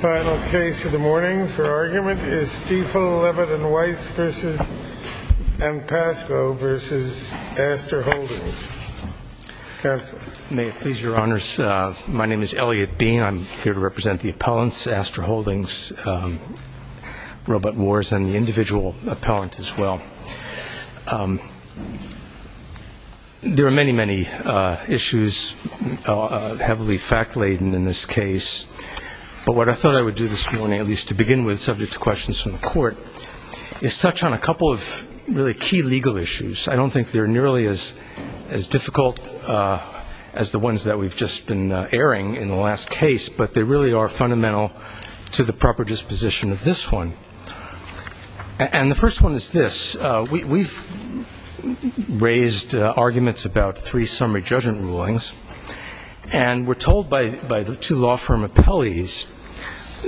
Final case of the morning for argument is Steefel Levitt v. M. Pascoe v. Astor Holdings. May it please your honors, my name is Elliot Bean. I'm here to represent the appellants, Astor Holdings, Roebuck Wars, and the individual appellant as well. There are many, many issues, heavily fact-laden in this case. But what I thought I would do this morning, at least to begin with, subject to questions from the court, is touch on a couple of really key legal issues. I don't think they're nearly as difficult as the ones that we've just been airing in the last case, but they really are fundamental to the proper disposition of this one. And the first one is this. We've raised arguments about three summary judgment rulings, and we're told by the two law firm appellees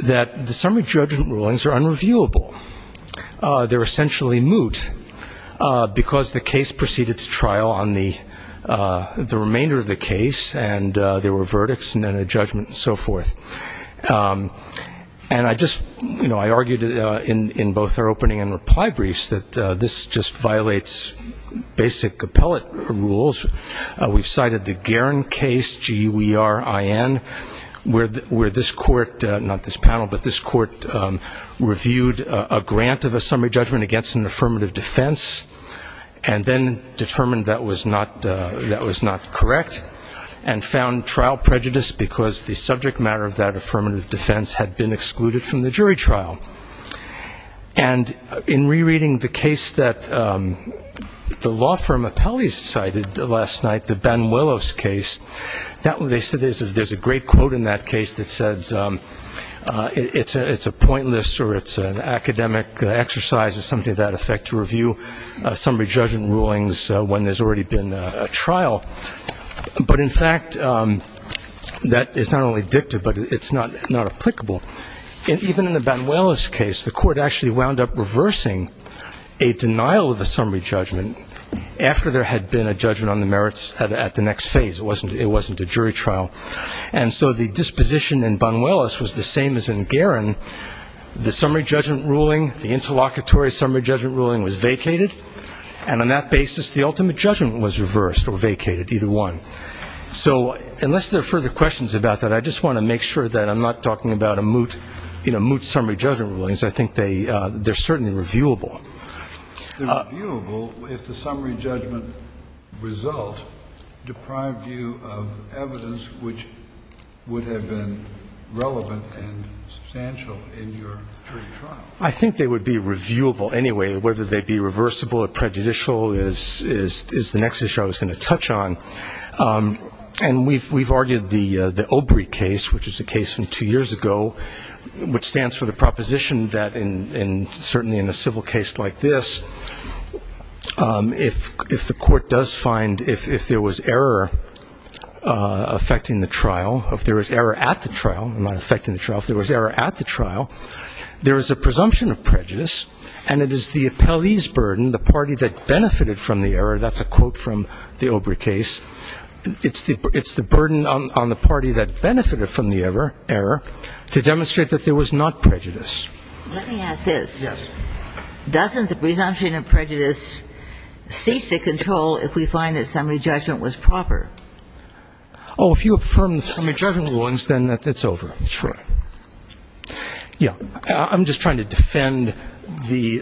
that the summary judgment rulings are unreviewable. They're essentially moot because the case proceeded to trial on the remainder of the case, and there were verdicts and then a judgment and so forth. And I just argued in both our opening and reply briefs that this just violates basic appellate rules. We've cited the Guerin case, G-U-E-R-I-N, where this court, not this panel, but this court reviewed a grant of a summary judgment against an affirmative defense and then determined that was not correct and found trial prejudice because the subject matter of that affirmative defense had been excluded from the jury trial. And in rereading the case that the law firm appellees cited last night, the Banuelos case, they said there's a great quote in that case that says it's a pointless or it's an academic exercise or something of that effect to review summary judgment rulings when there's already been a trial. But, in fact, that is not only dictative, but it's not applicable. Even in the Banuelos case, the court actually wound up reversing a denial of a summary judgment after there had been a judgment on the merits at the next phase. It wasn't a jury trial. And so the disposition in Banuelos was the same as in Guerin. The summary judgment ruling, the interlocutory summary judgment ruling was vacated, and on that basis the ultimate judgment was reversed or vacated, either one. So unless there are further questions about that, I just want to make sure that I'm not talking about a moot summary judgment rulings. I think they're certainly reviewable. They're reviewable if the summary judgment result deprived you of evidence which would have been relevant and substantial in your jury trial. I think they would be reviewable anyway. Whether they'd be reversible or prejudicial is the next issue I was going to touch on. And we've argued the OBRI case, which is a case from two years ago, which stands for the proposition that certainly in a civil case like this, if the court does find if there was error affecting the trial, if there was error at the trial, not affecting the trial, if there was error at the trial, there is a presumption of prejudice, and it is the appellee's burden, the party that benefited from the error, that's a quote from the OBRI case, it's the burden on the party that benefited from the error to demonstrate that there was not prejudice. Let me ask this. Yes. Doesn't the presumption of prejudice cease to control if we find that summary judgment was proper? Oh, if you affirm the summary judgment rulings, then it's over. Sure. Yeah. I'm just trying to defend the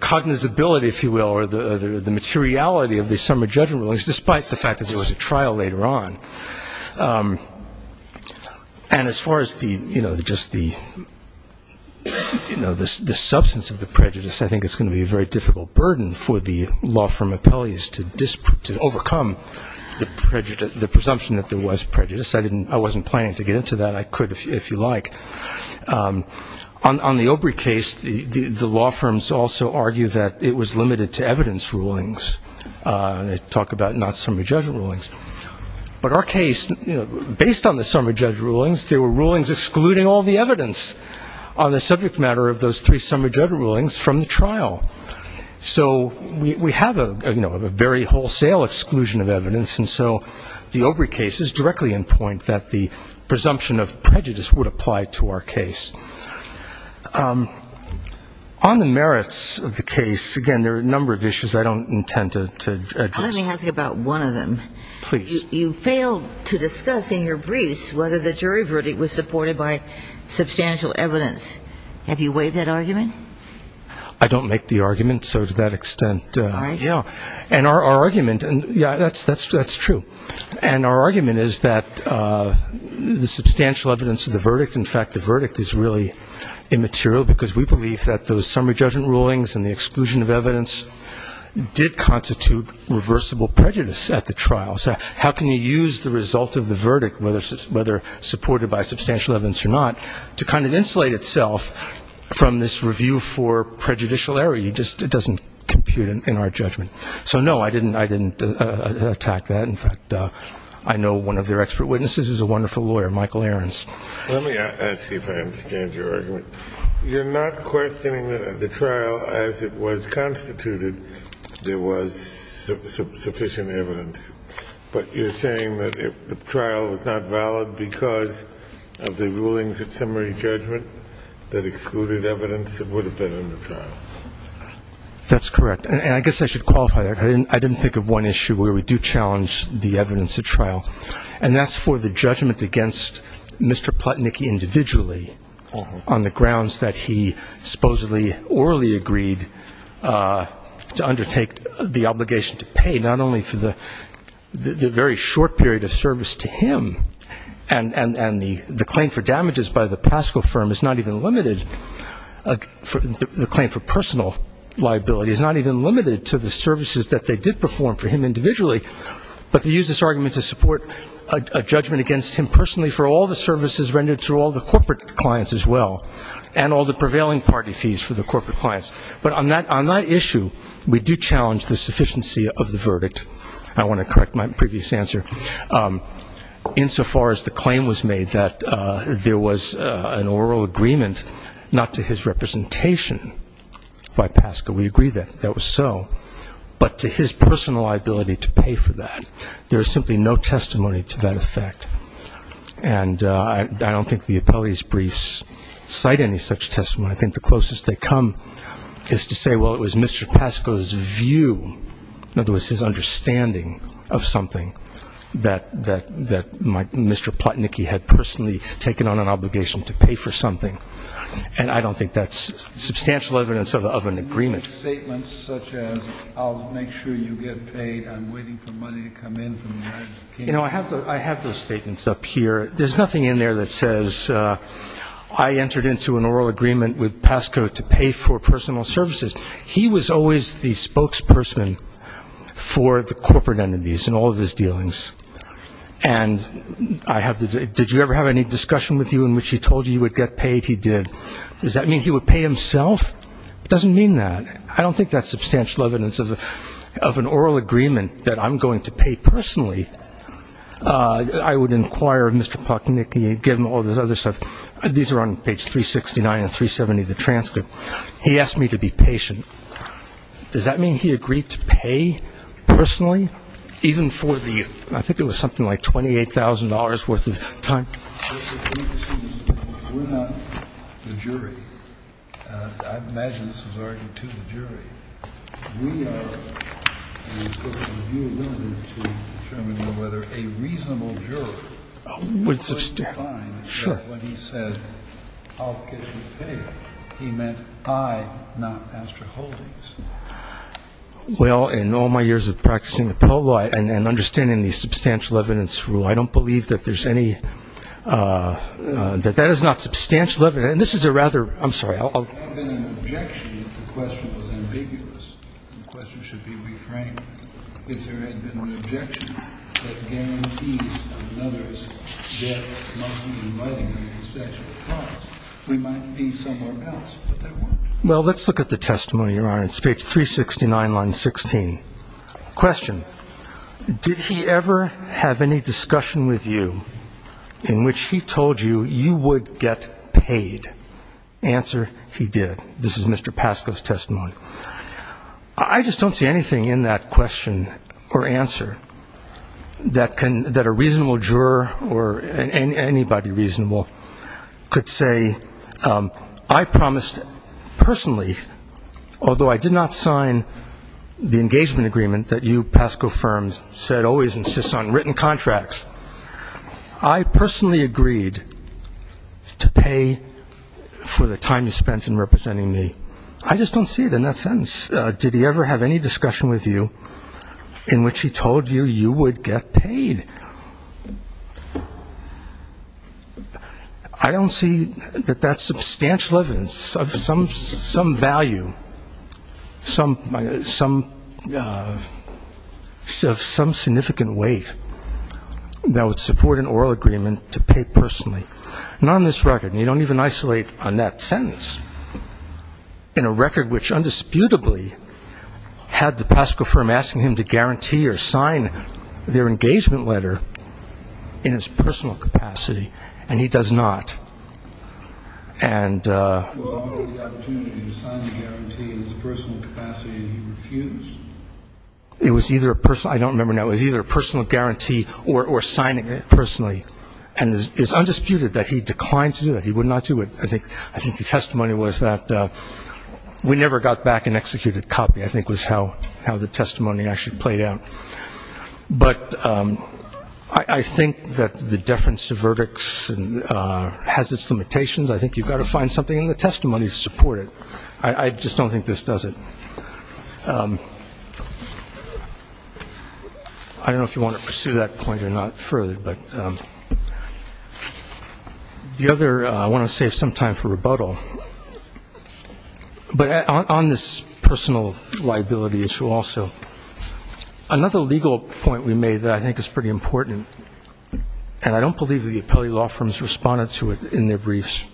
cognizability, if you will, or the materiality of the summary judgment rulings, despite the fact that there was a trial later on. And as far as just the substance of the prejudice, I think it's going to be a very difficult burden for the law firm appellees to overcome the presumption that there was prejudice. I wasn't planning to get into that. I could, if you like. On the OBRI case, the law firms also argue that it was limited to evidence rulings. They talk about not summary judgment rulings. But our case, based on the summary judgment rulings, there were rulings excluding all the evidence on the subject matter of those three summary judgment rulings So we have a very wholesale exclusion of evidence, and so the OBRI case is directly in point that the presumption of prejudice would apply to our case. On the merits of the case, again, there are a number of issues I don't intend to address. Let me ask you about one of them. Please. You failed to discuss in your briefs whether the jury verdict was supported by substantial evidence. Have you waived that argument? I don't make the argument, so to that extent, yeah. And our argument, yeah, that's true. And our argument is that the substantial evidence of the verdict, in fact, the verdict is really immaterial because we believe that those summary judgment rulings and the exclusion of evidence did constitute reversible prejudice at the trial. So how can you use the result of the verdict, whether supported by substantial evidence or not, to kind of insulate itself from this review for prejudicial error? It doesn't compute in our judgment. So, no, I didn't attack that. In fact, I know one of their expert witnesses who's a wonderful lawyer, Michael Aarons. Let me ask you if I understand your argument. You're not questioning the trial as it was constituted there was sufficient evidence, but you're saying that if the trial was not valid because of the rulings of summary judgment that excluded evidence, it would have been under trial. That's correct. And I guess I should qualify that. I didn't think of one issue where we do challenge the evidence at trial. And that's for the judgment against Mr. Plotnick individually on the grounds that he supposedly orally agreed to undertake the obligation to pay not only for the very short period of service to him and the claim for damages by the Pasco firm is not even limited, the claim for personal liability, is not even limited to the services that they did perform for him individually, but they use this argument to support a judgment against him personally for all the services rendered to all the corporate clients as well and all the prevailing party fees for the corporate clients. But on that issue, we do challenge the sufficiency of the verdict. I want to correct my previous answer. Insofar as the claim was made that there was an oral agreement not to his representation by Pasco, we agree that that was so, but to his personal liability to pay for that. There is simply no testimony to that effect. And I don't think the appellee's briefs cite any such testimony. I think the closest they come is to say, well, it was Mr. Pasco's view, in other words, his understanding of something, that Mr. Plotnicky had personally taken on an obligation to pay for something. And I don't think that's substantial evidence of an agreement. You make statements such as, I'll make sure you get paid, I'm waiting for money to come in from the United States. You know, I have those statements up here. There's nothing in there that says I entered into an oral agreement with Pasco to pay for personal services. He was always the spokesperson for the corporate entities in all of his dealings. And did you ever have any discussion with you in which he told you you would get paid? He did. Does that mean he would pay himself? It doesn't mean that. I don't think that's substantial evidence of an oral agreement that I'm going to pay personally. I would inquire Mr. Plotnicky, give him all this other stuff. These are on page 369 and 370 of the transcript. He asked me to be patient. Does that mean he agreed to pay personally, even for the, I think it was something like $28,000 worth of time? We're not the jury. I imagine this was already to the jury. We are, and it's up to you, William, to determine whether a reasonable juror would find that when he said, I'll get you paid, he meant I, not Pastor Holdings. Well, in all my years of practicing appellate law and understanding the substantial evidence rule, I don't believe that there's any, that that is not substantial evidence. And this is a rather, I'm sorry, I'll. If there had been an objection, the question was ambiguous. The question should be reframed. If there had been an objection that guarantees another's death not inviting a statute of crimes, we might be somewhere else, but there weren't. Well, let's look at the testimony, Your Honor. It's page 369, line 16. Question, did he ever have any discussion with you in which he told you you would get paid? Answer, he did. This is Mr. Pascoe's testimony. I just don't see anything in that question or answer that a reasonable juror or anybody reasonable could say, I promised personally, although I did not sign the engagement agreement that you, Pascoe Firms, said always insists on written contracts, I personally agreed to pay for the time you spent in representing me. I just don't see it in that sentence. Did he ever have any discussion with you in which he told you you would get paid? I don't see that that's substantial evidence of some value, some significant weight that would support an oral agreement to pay personally. Not on this record, and you don't even isolate on that sentence. In a record which undisputably had the Pascoe Firm asking him to guarantee or sign their engagement letter in his personal capacity, and he does not. And the opportunity to sign the guarantee in his personal capacity, he refused. It was either a personal, I don't remember now, it was either a personal guarantee or signing it personally. And it's undisputed that he declined to do that. He would not do it. I think the testimony was that we never got back an executed copy, I think was how the testimony actually played out. But I think that the deference to verdicts has its limitations. I think you've got to find something in the testimony to support it. I just don't think this does it. I don't know if you want to pursue that point or not further. But the other, I want to save some time for rebuttal. But on this personal liability issue also, another legal point we made that I think is pretty important, and I don't believe the appellee law firms responded to it in their briefs,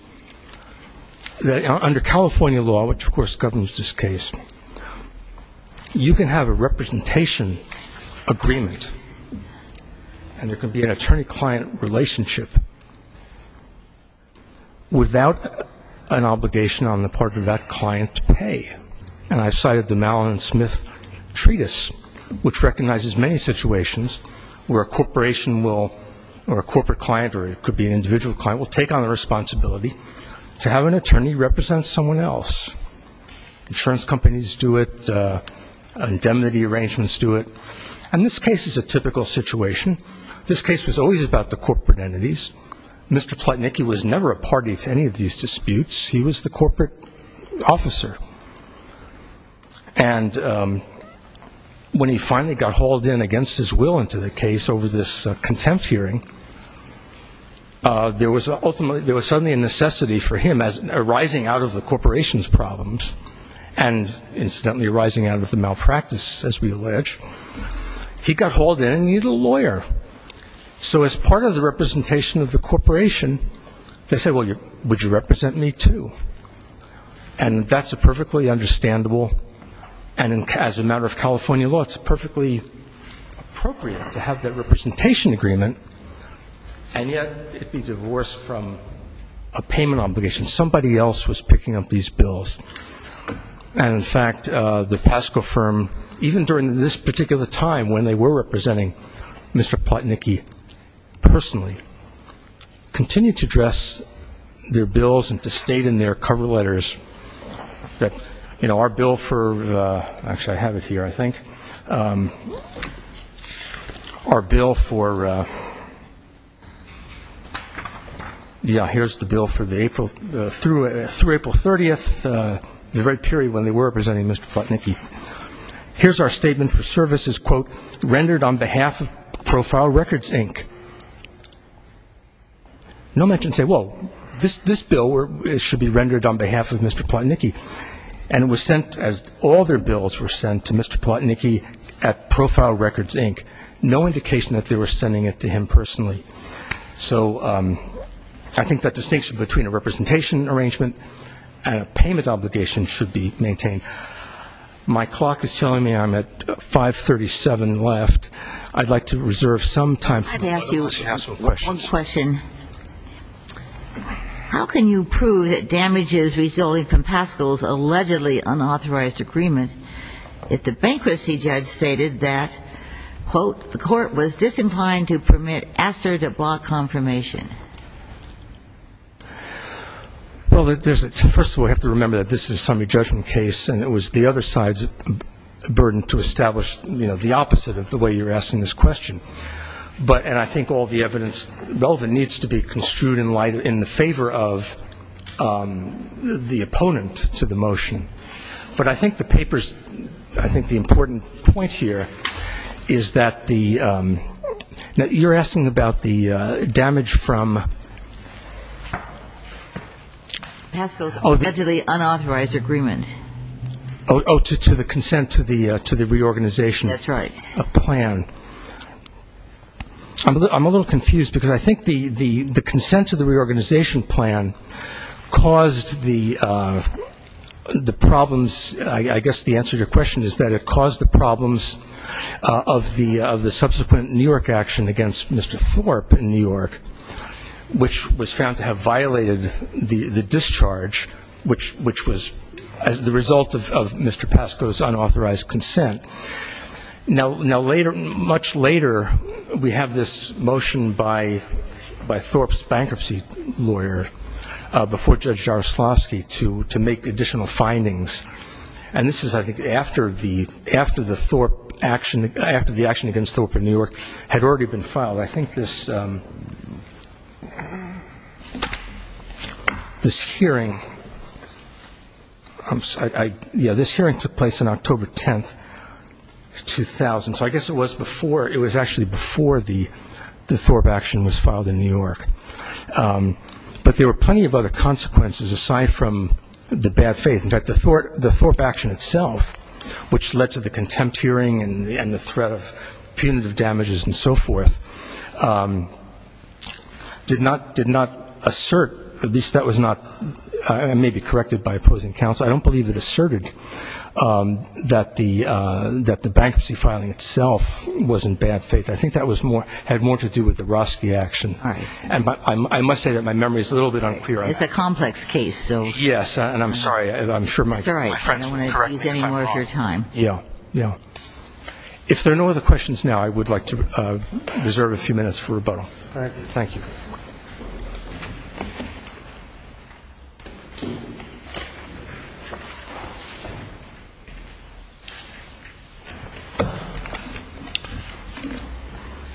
that under California law, which, of course, governs this case, you can have a representation agreement, and there can be an attorney-client relationship without an obligation on the part of that client to pay. And I cited the Mallin & Smith Treatise, which recognizes many situations where a corporation will, or a corporate client, or it could be an individual client, will take on the responsibility to have an attorney represent someone else. Insurance companies do it. Indemnity arrangements do it. And this case is a typical situation. This case was always about the corporate entities. Mr. Plotnick, he was never a party to any of these disputes. He was the corporate officer. And when he finally got hauled in against his will into the case over this contempt hearing, there was suddenly a necessity for him, arising out of the corporation's problems, and incidentally arising out of the malpractice, as we allege, he got hauled in and needed a lawyer. So as part of the representation of the corporation, they said, well, would you represent me too? And that's a perfectly understandable, and as a matter of California law, it's perfectly appropriate to have that representation agreement, and yet it'd be divorced from a payment obligation. Somebody else was picking up these bills. And, in fact, the Pasco firm, even during this particular time, when they were representing Mr. Plotnick personally, continued to address their bills and to state in their cover letters that, you know, our bill for the ‑‑ actually, I have it here, I think. Our bill for ‑‑ yeah, here's the bill through April 30th, the very period when they were representing Mr. Plotnick. Here's our statement for services, quote, rendered on behalf of Profile Records, Inc. No mention to say, well, this bill should be rendered on behalf of Mr. Plotnick. And it was sent, as all their bills were sent, to Mr. Plotnick at Profile Records, Inc. No indication that they were sending it to him personally. So I think that distinction between a representation arrangement and a payment obligation should be maintained. My clock is telling me I'm at 5.37 left. I'd like to reserve some time for the rest of the Council questions. How can you prove that damage is resulting from Paschal's allegedly unauthorized agreement if the bankruptcy judge stated that, quote, the court was disinclined to permit Astor de Blas confirmation? Well, first of all, I have to remember that this is a summary judgment case, and it was the other side's burden to establish, you know, the opposite of the way you're asking this question. And I think all the evidence relevant needs to be construed in light in the favor of the opponent to the motion. But I think the papers ‑‑ I think the important point here is that the ‑‑ you're asking about the damage from ‑‑ Paschal's allegedly unauthorized agreement. Oh, to the consent to the reorganization. That's right. A plan. I'm a little confused because I think the consent to the reorganization plan caused the problems, I guess the answer to your question is that it caused the problems of the subsequent New York action against Mr. Thorpe in New York, which was found to have violated the discharge, which was the result of Mr. Paschal's unauthorized consent. Now, later, much later, we have this motion by Thorpe's bankruptcy lawyer before Judge Jaroslawski to make additional findings, and this is, I think, after the Thorpe action, after the action against Thorpe in New York had already been filed. I think this hearing, yeah, this hearing took place on October 10th, 2000, so I guess it was before, it was actually before the Thorpe action was filed in New York. But there were plenty of other consequences aside from the bad faith. In fact, the Thorpe action itself, which led to the contempt hearing and the threat of punitive damages and so forth, did not assert, at least that was not maybe corrected by opposing counsel, I don't believe it asserted that the bankruptcy filing itself was in bad faith. I think that had more to do with the Jaroslawski action. I must say that my memory is a little bit unclear. It's a complex case. Yes, and I'm sorry, I'm sure my friends would correct me if I'm wrong. Yeah, yeah. If there are no other questions now, I would like to reserve a few minutes for rebuttal. All right. Thank you.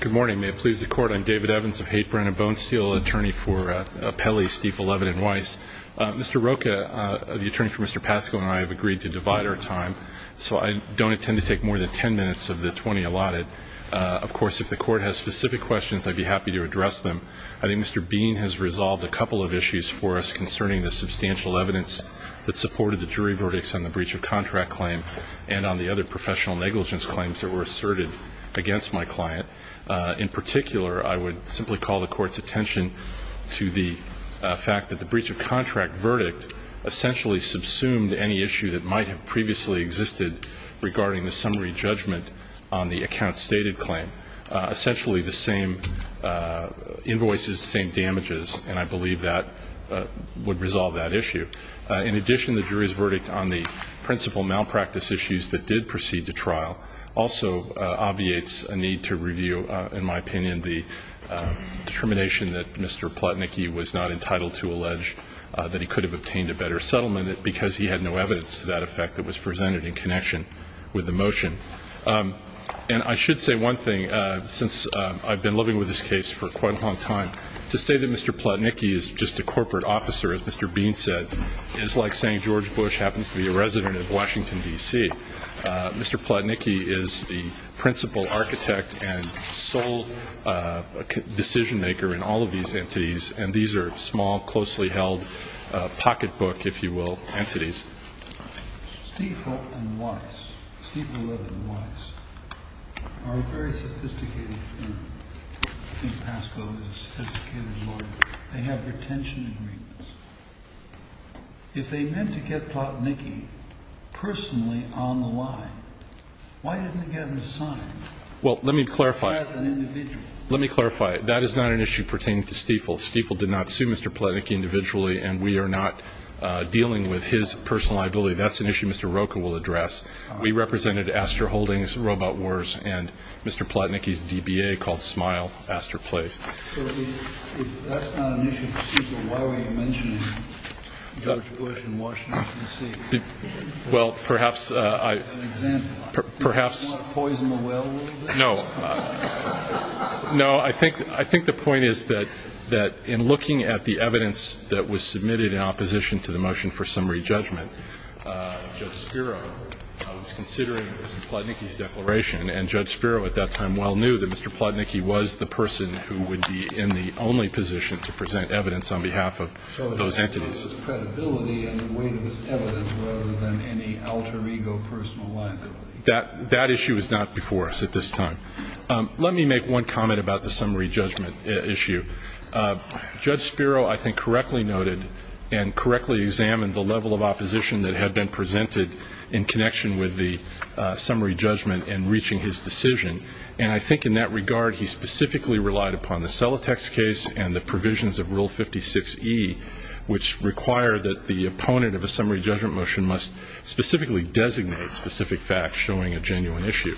Good morning. May it please the Court, I'm David Evans of Haight-Brand, a bone steel attorney for Pelley, Stiefel, Levitt & Weiss. Mr. Rocha, the attorney for Mr. Pascoe and I have agreed to divide our time, so I don't intend to take more than 10 minutes of the 20 allotted. Of course, if the Court has specific questions, I'd be happy to address them. I think Mr. Bean has resolved a couple of issues for us concerning the substantial evidence that supported the jury verdicts on the breach of contract claim and on the other professional negligence claims that were asserted against my client. In particular, I would simply call the Court's attention to the fact that the breach of contract verdict essentially subsumed any issue that might have previously existed regarding the summary judgment on the account stated claim, essentially the same invoices, the same damages, and I believe that would resolve that issue. In addition, the jury's verdict on the principal malpractice issues that did proceed to trial also obviates a need to review, in my opinion, the determination that Mr. Plotnicky was not entitled to allege that he could have obtained a better settlement because he had no evidence to that effect that was presented in connection with the motion. And I should say one thing. Since I've been living with this case for quite a long time, to say that Mr. Plotnicky is just a corporate officer, as Mr. Bean said, is like saying George Bush happens to be a resident of Washington, D.C. Mr. Plotnicky is the principal architect and sole decision maker in all of these entities, and these are small, closely held pocketbook, if you will, entities. Steeple and Weiss, Steeple, Weiss, are a very sophisticated firm. I think Pascoe is a sophisticated lawyer. They have retention agreements. If they meant to get Plotnicky personally on the line, why didn't they get him to sign? Well, let me clarify. As an individual. Let me clarify. That is not an issue pertaining to Steeple. Steeple did not sue Mr. Plotnicky individually, and we are not dealing with his personal liability. That's an issue Mr. Rocha will address. We represented Astor Holdings, Robot Wars, and Mr. Plotnicky's DBA called Smile Astor Place. So if that's not an issue for Steeple, why were you mentioning George Bush in Washington, D.C.? Well, perhaps I – As an example. Perhaps – Do you want to poison the well a little bit? No. No, I think the point is that in looking at the evidence that was submitted in opposition to the motion for summary judgment, Judge Spiro was considering Mr. Plotnicky's declaration, and Judge Spiro at that time well knew that Mr. Plotnicky was the person who would be in the only position to present evidence on behalf of those entities. So it was credibility and the weight of his evidence rather than any alter ego personal liability. That issue is not before us at this time. Let me make one comment about the summary judgment issue. Judge Spiro, I think, correctly noted and correctly examined the level of opposition that had been presented in connection with the summary judgment in reaching his decision. And I think in that regard, he specifically relied upon the Celotex case and the provisions of Rule 56E, which require that the opponent of a summary judgment motion must specifically designate specific facts showing a genuine issue.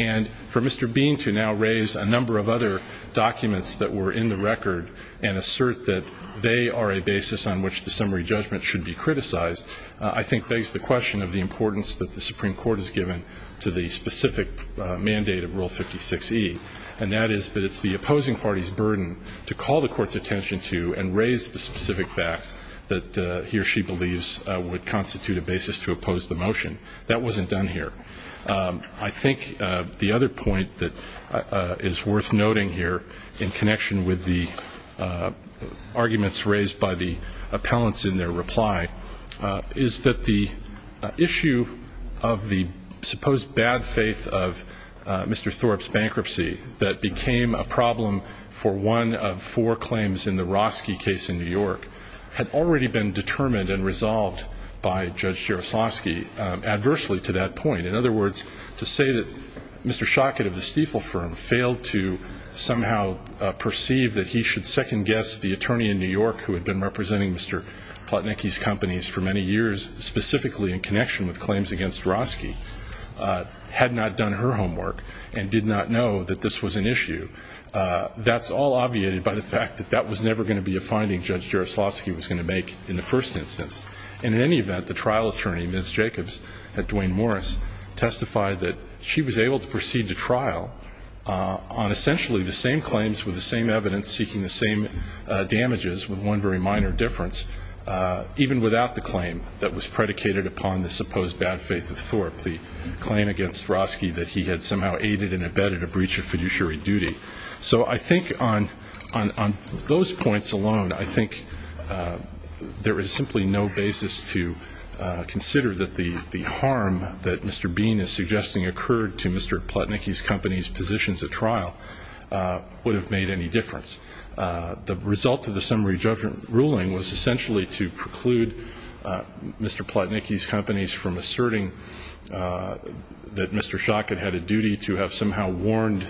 And for Mr. Bean to now raise a number of other documents that were in the record and assert that they are a basis on which the summary judgment should be criticized, I think begs the question of the importance that the Supreme Court has given to the specific mandate of Rule 56E, and that is that it's the opposing party's burden to call the court's attention to and raise the specific facts that he or she believes would constitute a basis to oppose the motion. That wasn't done here. I think the other point that is worth noting here, in connection with the arguments raised by the appellants in their reply, is that the issue of the supposed bad faith of Mr. Thorpe's bankruptcy that became a problem for one of four claims in the Roski case in New York had already been determined and resolved by Judge Jaroslawski adversely to that point. In other words, to say that Mr. Schockett of the Stiefel firm failed to somehow perceive that he should second-guess the attorney in New York who had been representing Mr. Plotnicki's companies for many years, specifically in connection with claims against Roski, had not done her homework and did not know that this was an issue, that's all obviated by the fact that that was never going to be a finding Judge Jaroslawski was going to make in the first instance. And in any event, the trial attorney, Ms. Jacobs, at Duane Morris, testified that she was able to proceed to trial on essentially the same claims with the same evidence seeking the same damages with one very minor difference, even without the claim that was predicated upon the supposed bad faith of Thorpe, the claim against Roski that he had somehow aided and abetted a breach of fiduciary duty. So I think on those points alone, I think there is simply no basis to consider that the harm that Mr. Bean is suggesting occurred to Mr. Plotnicki's company's positions at trial would have made any difference. The result of the summary judgment ruling was essentially to preclude Mr. Plotnicki's companies from asserting that Mr. Schock had had a duty to have somehow warned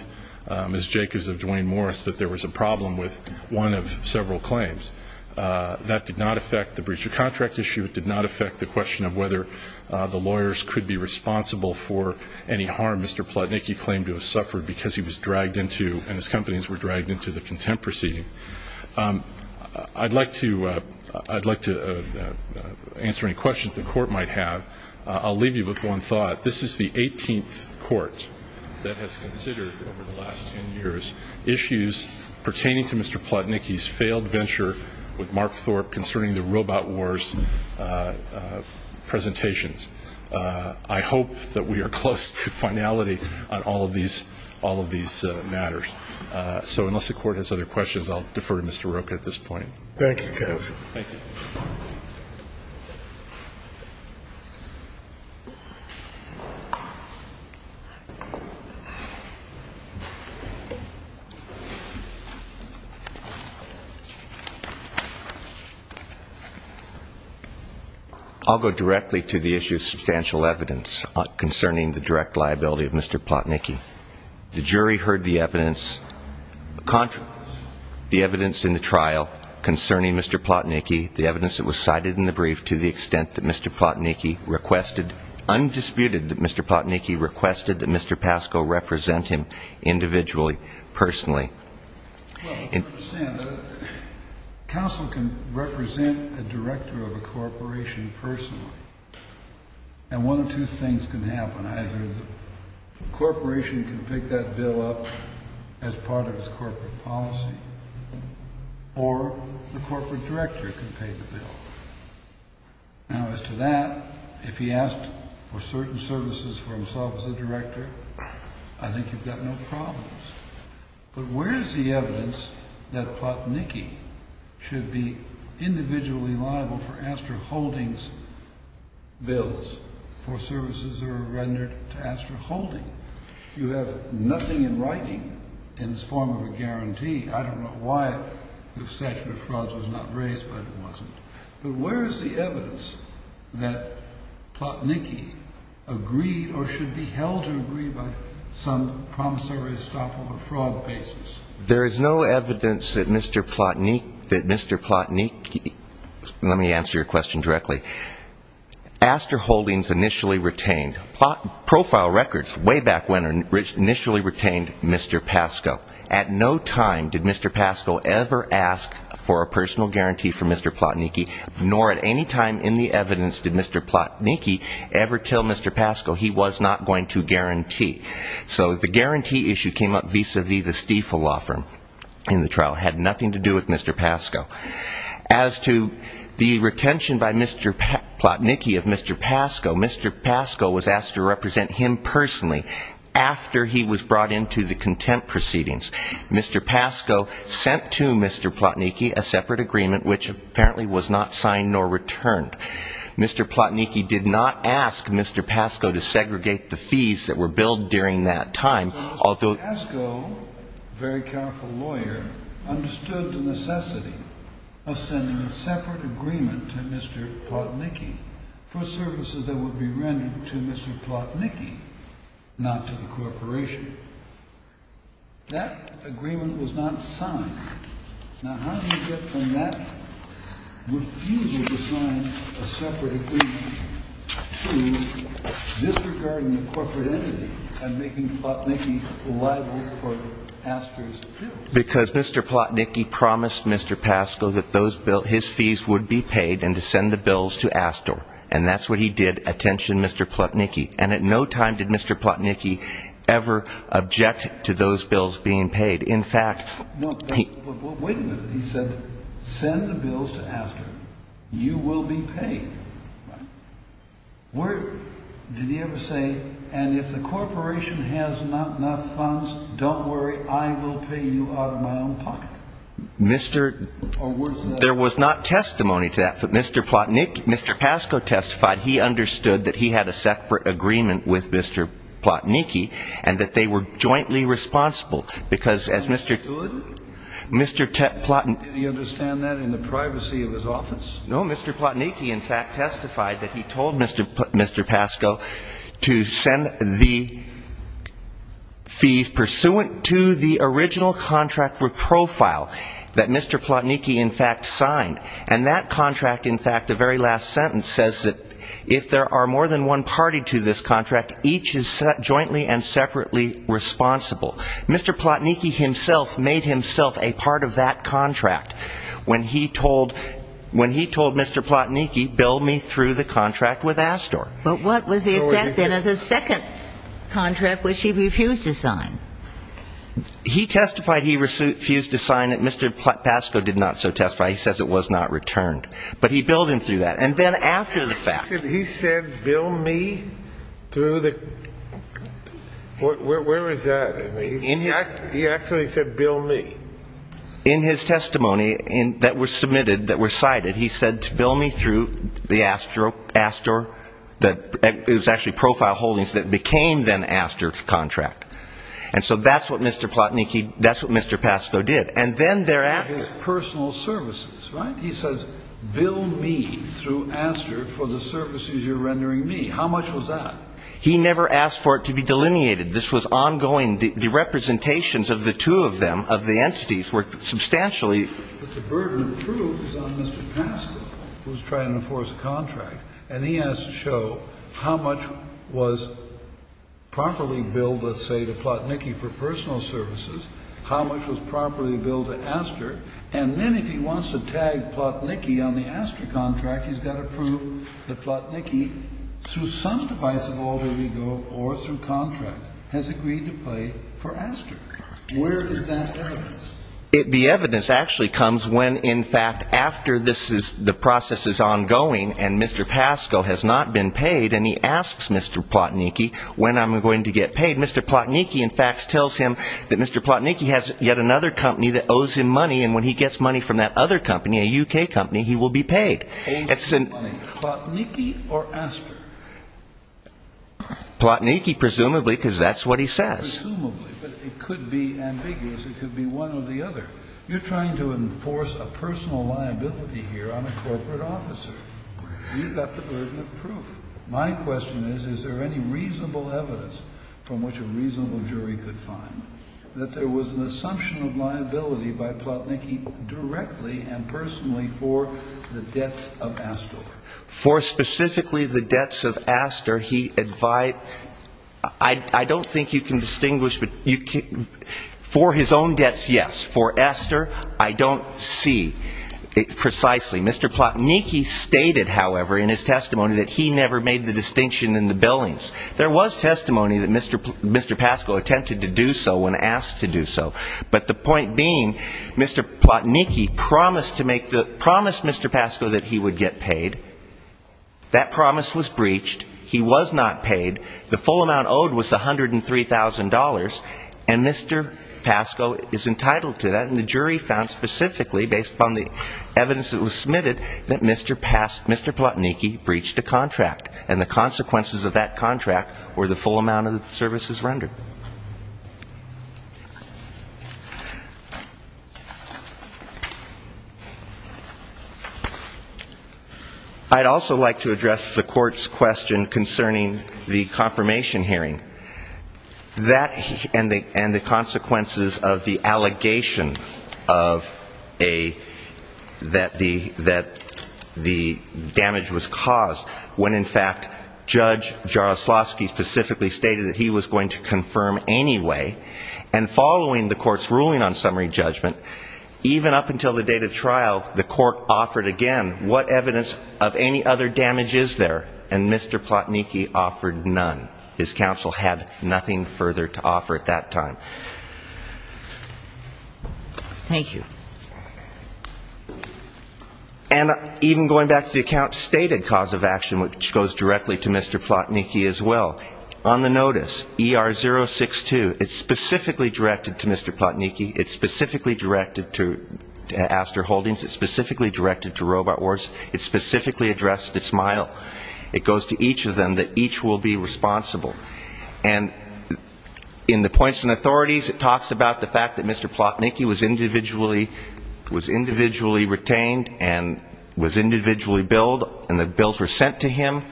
Ms. Jacobs of Duane Morris that there was a problem with one of several claims. That did not affect the breach of contract issue. It did not affect the question of whether the lawyers could be responsible for any harm Mr. Plotnicki claimed to have suffered because he was dragged into and his companies were dragged into the contempt proceeding. I'd like to answer any questions the court might have. I'll leave you with one thought. This is the 18th court that has considered over the last 10 years issues pertaining to Mr. Plotnicki's failed venture with Mark Thorpe concerning the Robot Wars presentations. I hope that we are close to finality on all of these matters. So unless the court has other questions, I'll defer to Mr. Rocha at this point. Thank you, counsel. Thank you. I'll go directly to the issue of substantial evidence concerning the direct liability of Mr. Plotnicki. The jury heard the evidence, the evidence in the trial concerning Mr. Plotnicki, the evidence that was cited in the brief to the extent that Mr. Plotnicki requested, undisputed that Mr. Plotnicki requested that Mr. Pascoe represent him individually, personally. Counsel can represent a director of a corporation personally, and one of two things can happen. Either the corporation can pick that bill up as part of its corporate policy, or the corporate director can pay the bill. Now, as to that, if he asked for certain services for himself as a director, I think you've got no problems. But where is the evidence that Plotnicki should be individually liable for Astor Holdings bills for services that are rendered to Astor Holding? You have nothing in writing in this form of a guarantee. I don't know why the statute of frauds was not raised, but it wasn't. But where is the evidence that Plotnicki agreed or should be held to agree by some promissory stop of a fraud basis? There is no evidence that Mr. Plotnicki ñ let me answer your question directly. Astor Holdings initially retained ñ Profile Records way back when initially retained Mr. Pascoe. At no time did Mr. Pascoe ever ask for a personal guarantee from Mr. Plotnicki, nor at any time in the evidence did Mr. Plotnicki ever tell Mr. Pascoe he was not going to guarantee. So the guarantee issue came up vis-à-vis the Stiefel law firm in the trial. It had nothing to do with Mr. Pascoe. As to the retention by Mr. Plotnicki of Mr. Pascoe, Mr. Pascoe was asked to represent him personally after he was brought into the contempt proceedings. Mr. Pascoe sent to Mr. Plotnicki a separate agreement which apparently was not signed nor returned. Mr. Plotnicki did not ask Mr. Pascoe to segregate the fees that were billed during that time. So Mr. Pascoe, a very careful lawyer, understood the necessity of sending a separate agreement to Mr. Plotnicki for services that would be rendered to Mr. Plotnicki, not to the corporation. That agreement was not signed. Now, how do you get from that refusal to sign a separate agreement to disregarding the corporate entity and making Plotnicki liable for Astor's bills? Because Mr. Plotnicki promised Mr. Pascoe that his fees would be paid and to send the bills to Astor. And that's what he did, attention Mr. Plotnicki. And at no time did Mr. Plotnicki ever object to those bills being paid. Wait a minute. He said, send the bills to Astor. You will be paid. Did he ever say, and if the corporation has not enough funds, don't worry, I will pay you out of my own pocket? There was not testimony to that. But Mr. Pascoe testified he understood that he had a separate agreement with Mr. Plotnicki and that they were jointly responsible because as Mr. Plotnicki in fact testified that he told Mr. Pascoe to send the fees pursuant to the original contract for profile that Mr. Plotnicki in fact signed. And that contract in fact, the very last sentence says that if there are more than one party to this contract, each is jointly and separately responsible. Mr. Plotnicki himself made himself a part of that contract when he told Mr. Plotnicki, bill me through the contract with Astor. But what was the effect then of the second contract which he refused to sign? He testified he refused to sign it. Mr. Pascoe did not so testify. He says it was not returned. But he billed him through that. And then after the fact. He said bill me through the, where was that? He actually said bill me. In his testimony that was submitted, that was cited, he said to bill me through the Astor, it was actually profile holdings that became then Astor's contract. And so that's what Mr. Plotnicki, that's what Mr. Pascoe did. And then thereafter. His personal services, right? He says bill me through Astor for the services you're rendering me. How much was that? He never asked for it to be delineated. This was ongoing. The representations of the two of them, of the entities, were substantially. The burden of proof is on Mr. Pascoe who's trying to enforce a contract. And he has to show how much was properly billed, let's say, to Plotnicki for personal services, how much was properly billed to Astor. And then if he wants to tag Plotnicki on the Astor contract, he's got to prove that Plotnicki, through some device of alter ego or through contract, has agreed to pay for Astor. Where is that evidence? The evidence actually comes when, in fact, after the process is ongoing and Mr. Pascoe has not been paid and he asks Mr. Plotnicki when I'm going to get paid. Mr. Plotnicki, in fact, tells him that Mr. Plotnicki has yet another company that owes him money and when he gets money from that other company, a U.K. company, he will be paid. Owes him money. Plotnicki or Astor? Plotnicki, presumably, because that's what he says. Presumably, but it could be ambiguous. It could be one or the other. You're trying to enforce a personal liability here on a corporate officer. You've got the burden of proof. My question is, is there any reasonable evidence from which a reasonable jury could find that there was an assumption of liability by Plotnicki directly and personally for the debts of Astor? For specifically the debts of Astor, he advised, I don't think you can distinguish, for his own debts, yes. For Astor, I don't see precisely. Mr. Plotnicki stated, however, in his testimony that he never made the distinction in the billings. There was testimony that Mr. Pascoe attempted to do so when asked to do so. But the point being, Mr. Plotnicki promised to make the Mr. Pascoe that he would get paid. That promise was breached. He was not paid. The full amount owed was $103,000. And Mr. Pascoe is entitled to that. And the jury found specifically, based upon the evidence that was submitted, that Mr. Plotnicki breached a contract. And the consequences of that contract were the full amount of the services rendered. I'd also like to address the court's question concerning the confirmation hearing. That and the consequences of the allegation of a, that the, that the damage was caused when, in fact, Judge Jaroslawski specifically stated that he was going to confirm the And following the court's ruling on summary judgment, even up until the date of trial, the court offered again, what evidence of any other damage is there? And Mr. Plotnicki offered none. His counsel had nothing further to offer at that time. And even going back to the account stated cause of action, which goes directly to Mr. Plotnicki as well, on the notice, ER062, it's specifically directed to Mr. Plotnicki, it's specifically directed to Astor Holdings, it's specifically directed to Robot Wars, it's specifically addressed to SMILE. It goes to each of them, that each will be responsible. And in the points and authorities, it talks about the fact that Mr. Plotnicki was individually, was individually retained and was individually billed, and the bills were sent to him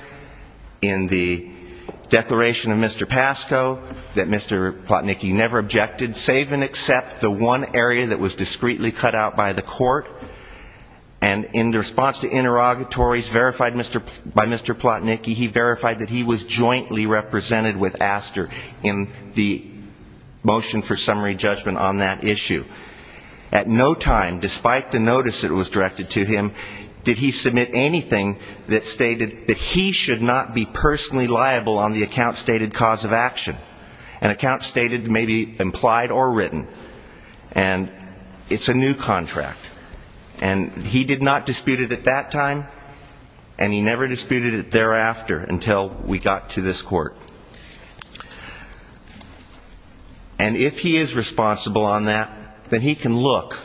in the declaration of Mr. Pasco, that Mr. Plotnicki never objected, save and except the one area that was discreetly cut out by the court. And in response to interrogatories verified by Mr. Plotnicki, he verified that he was jointly represented with Astor in the motion for summary judgment on that issue. At no time, despite the notice that was directed to him, did he submit anything that stated that he should not be personally liable on the account stated cause of action, an account stated maybe implied or written, and it's a new contract. And he did not dispute it at that time, and he never disputed it thereafter until we got to this court. And if he is responsible on that, then he can look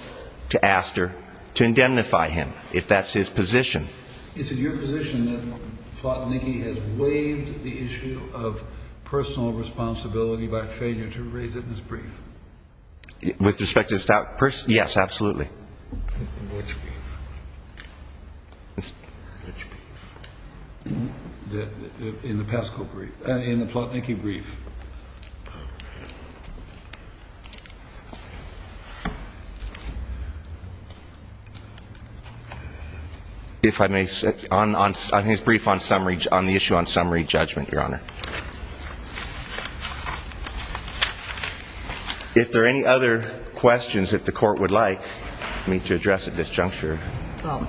to Astor to indemnify him, if that's his position. Is it your position that Plotnicki has waived the issue of personal responsibility by failure to raise it in his brief? With respect to the staff person? Yes, absolutely. In the Pasco brief, in the Plotnicki brief. If I may, on his brief on the issue on summary judgment, Your Honor. If there are any other questions that the court would like me to address at this juncture? Let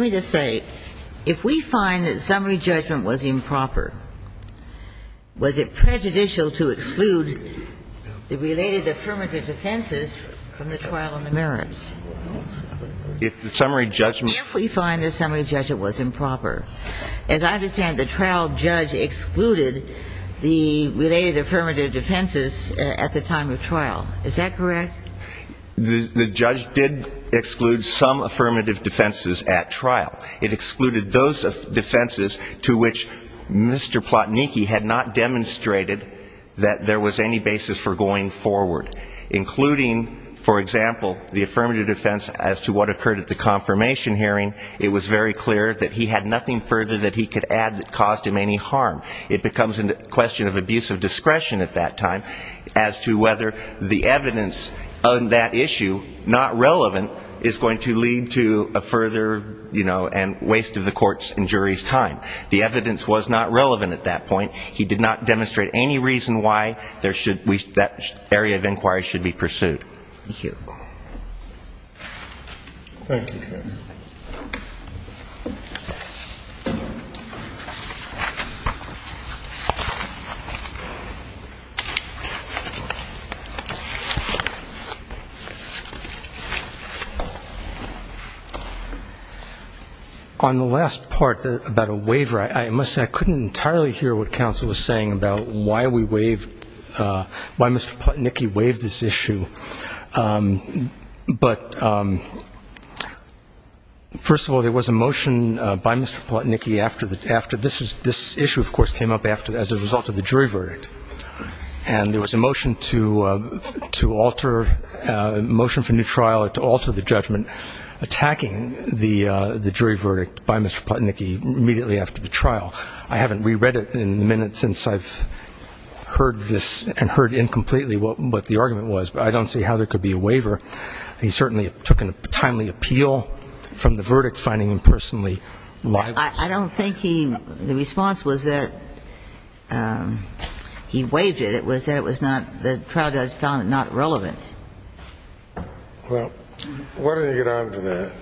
me just say, if we find that summary judgment was improper, was it prejudicial to exclude the related affirmative defenses from the trial on the merits? If the summary judgment... If we find the summary judgment was improper. As I understand, the trial judge excluded the related affirmative defenses at the time of trial. Is that correct? The judge did exclude some affirmative defenses at trial. It excluded those defenses to which Mr. Plotnicki had not demonstrated that there was any basis for going forward. Including, for example, the affirmative defense as to what occurred at the confirmation hearing, it was very clear that he had nothing further that he could add that caused him any harm. It becomes a question of abuse of discretion at that time as to whether the evidence on that issue, not relevant, is going to lead to a further, you know, and waste of the court's and jury's time. The evidence was not relevant at that point. He did not demonstrate any reason why that area of inquiry should be pursued. Thank you. On the last part about a waiver, I must say I couldn't entirely hear what counsel was saying about why we waive, why Mr. Plotnicki waived this issue. But, first of all, there was a motion by Mr. Plotnicki after this issue, of course, came up as a result of the jury verdict. And there was a motion to alter, a motion for new trial to alter the judgment, attacking the jury verdict by Mr. Plotnicki immediately after the trial. I haven't reread it in a minute since I've heard this and heard incompletely what the argument was. But I don't see how there could be a waiver. He certainly took a timely appeal from the verdict, finding him personally liable. I don't think he, the response was that he waived it. It was that it was not, the trial judge found it not relevant. Well, why don't you get on to that?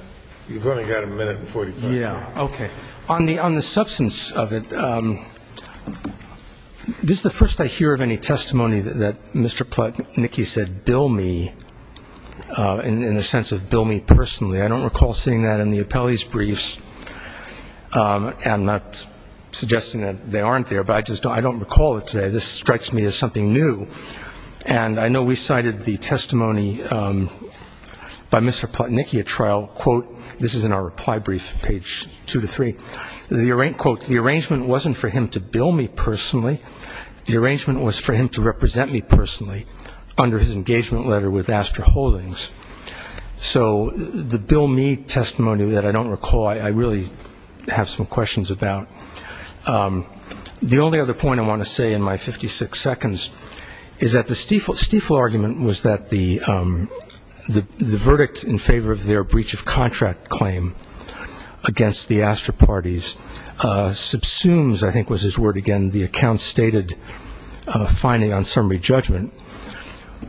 You've only got a minute and 45. Yeah, okay. On the substance of it, this is the first I hear of any testimony that Mr. Plotnicki said, bill me, in the sense of bill me personally. I don't recall seeing that in the appellee's briefs. I'm not suggesting that they aren't there, but I just don't recall it today. This strikes me as something new. And I know we cited the testimony by Mr. Plotnicki at trial. This is in our reply brief, page two to three. Quote, the arrangement wasn't for him to bill me personally. The arrangement was for him to represent me personally under his engagement letter with Astra Holdings. So the bill me testimony that I don't recall, I really have some questions about. The only other point I want to say in my 56 seconds is that the Stiefel argument was that the verdict in favor of their breach of contract claim against the Astra parties subsumes, I think was his word again, the account-stated finding on summary judgment.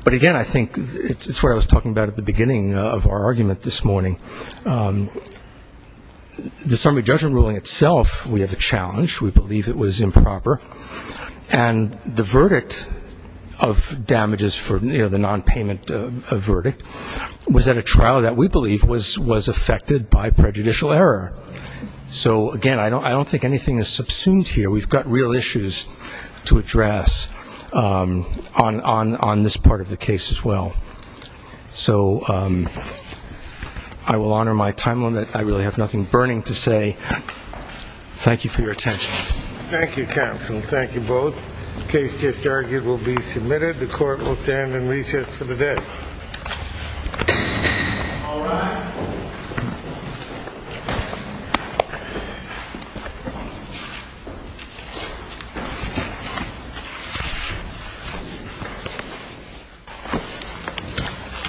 But, again, I think it's what I was talking about at the beginning of our argument this morning. The summary judgment ruling itself, we have a challenge. We believe it was improper. And the verdict of damages for the nonpayment verdict was at a trial that we believe was affected by prejudicial error. So, again, I don't think anything is subsumed here. We've got real issues to address on this part of the case as well. So I will honor my time limit. I really have nothing burning to say. Thank you for your attention. Thank you, counsel. Thank you both. The case just argued will be submitted. The court will stand in recess for the day.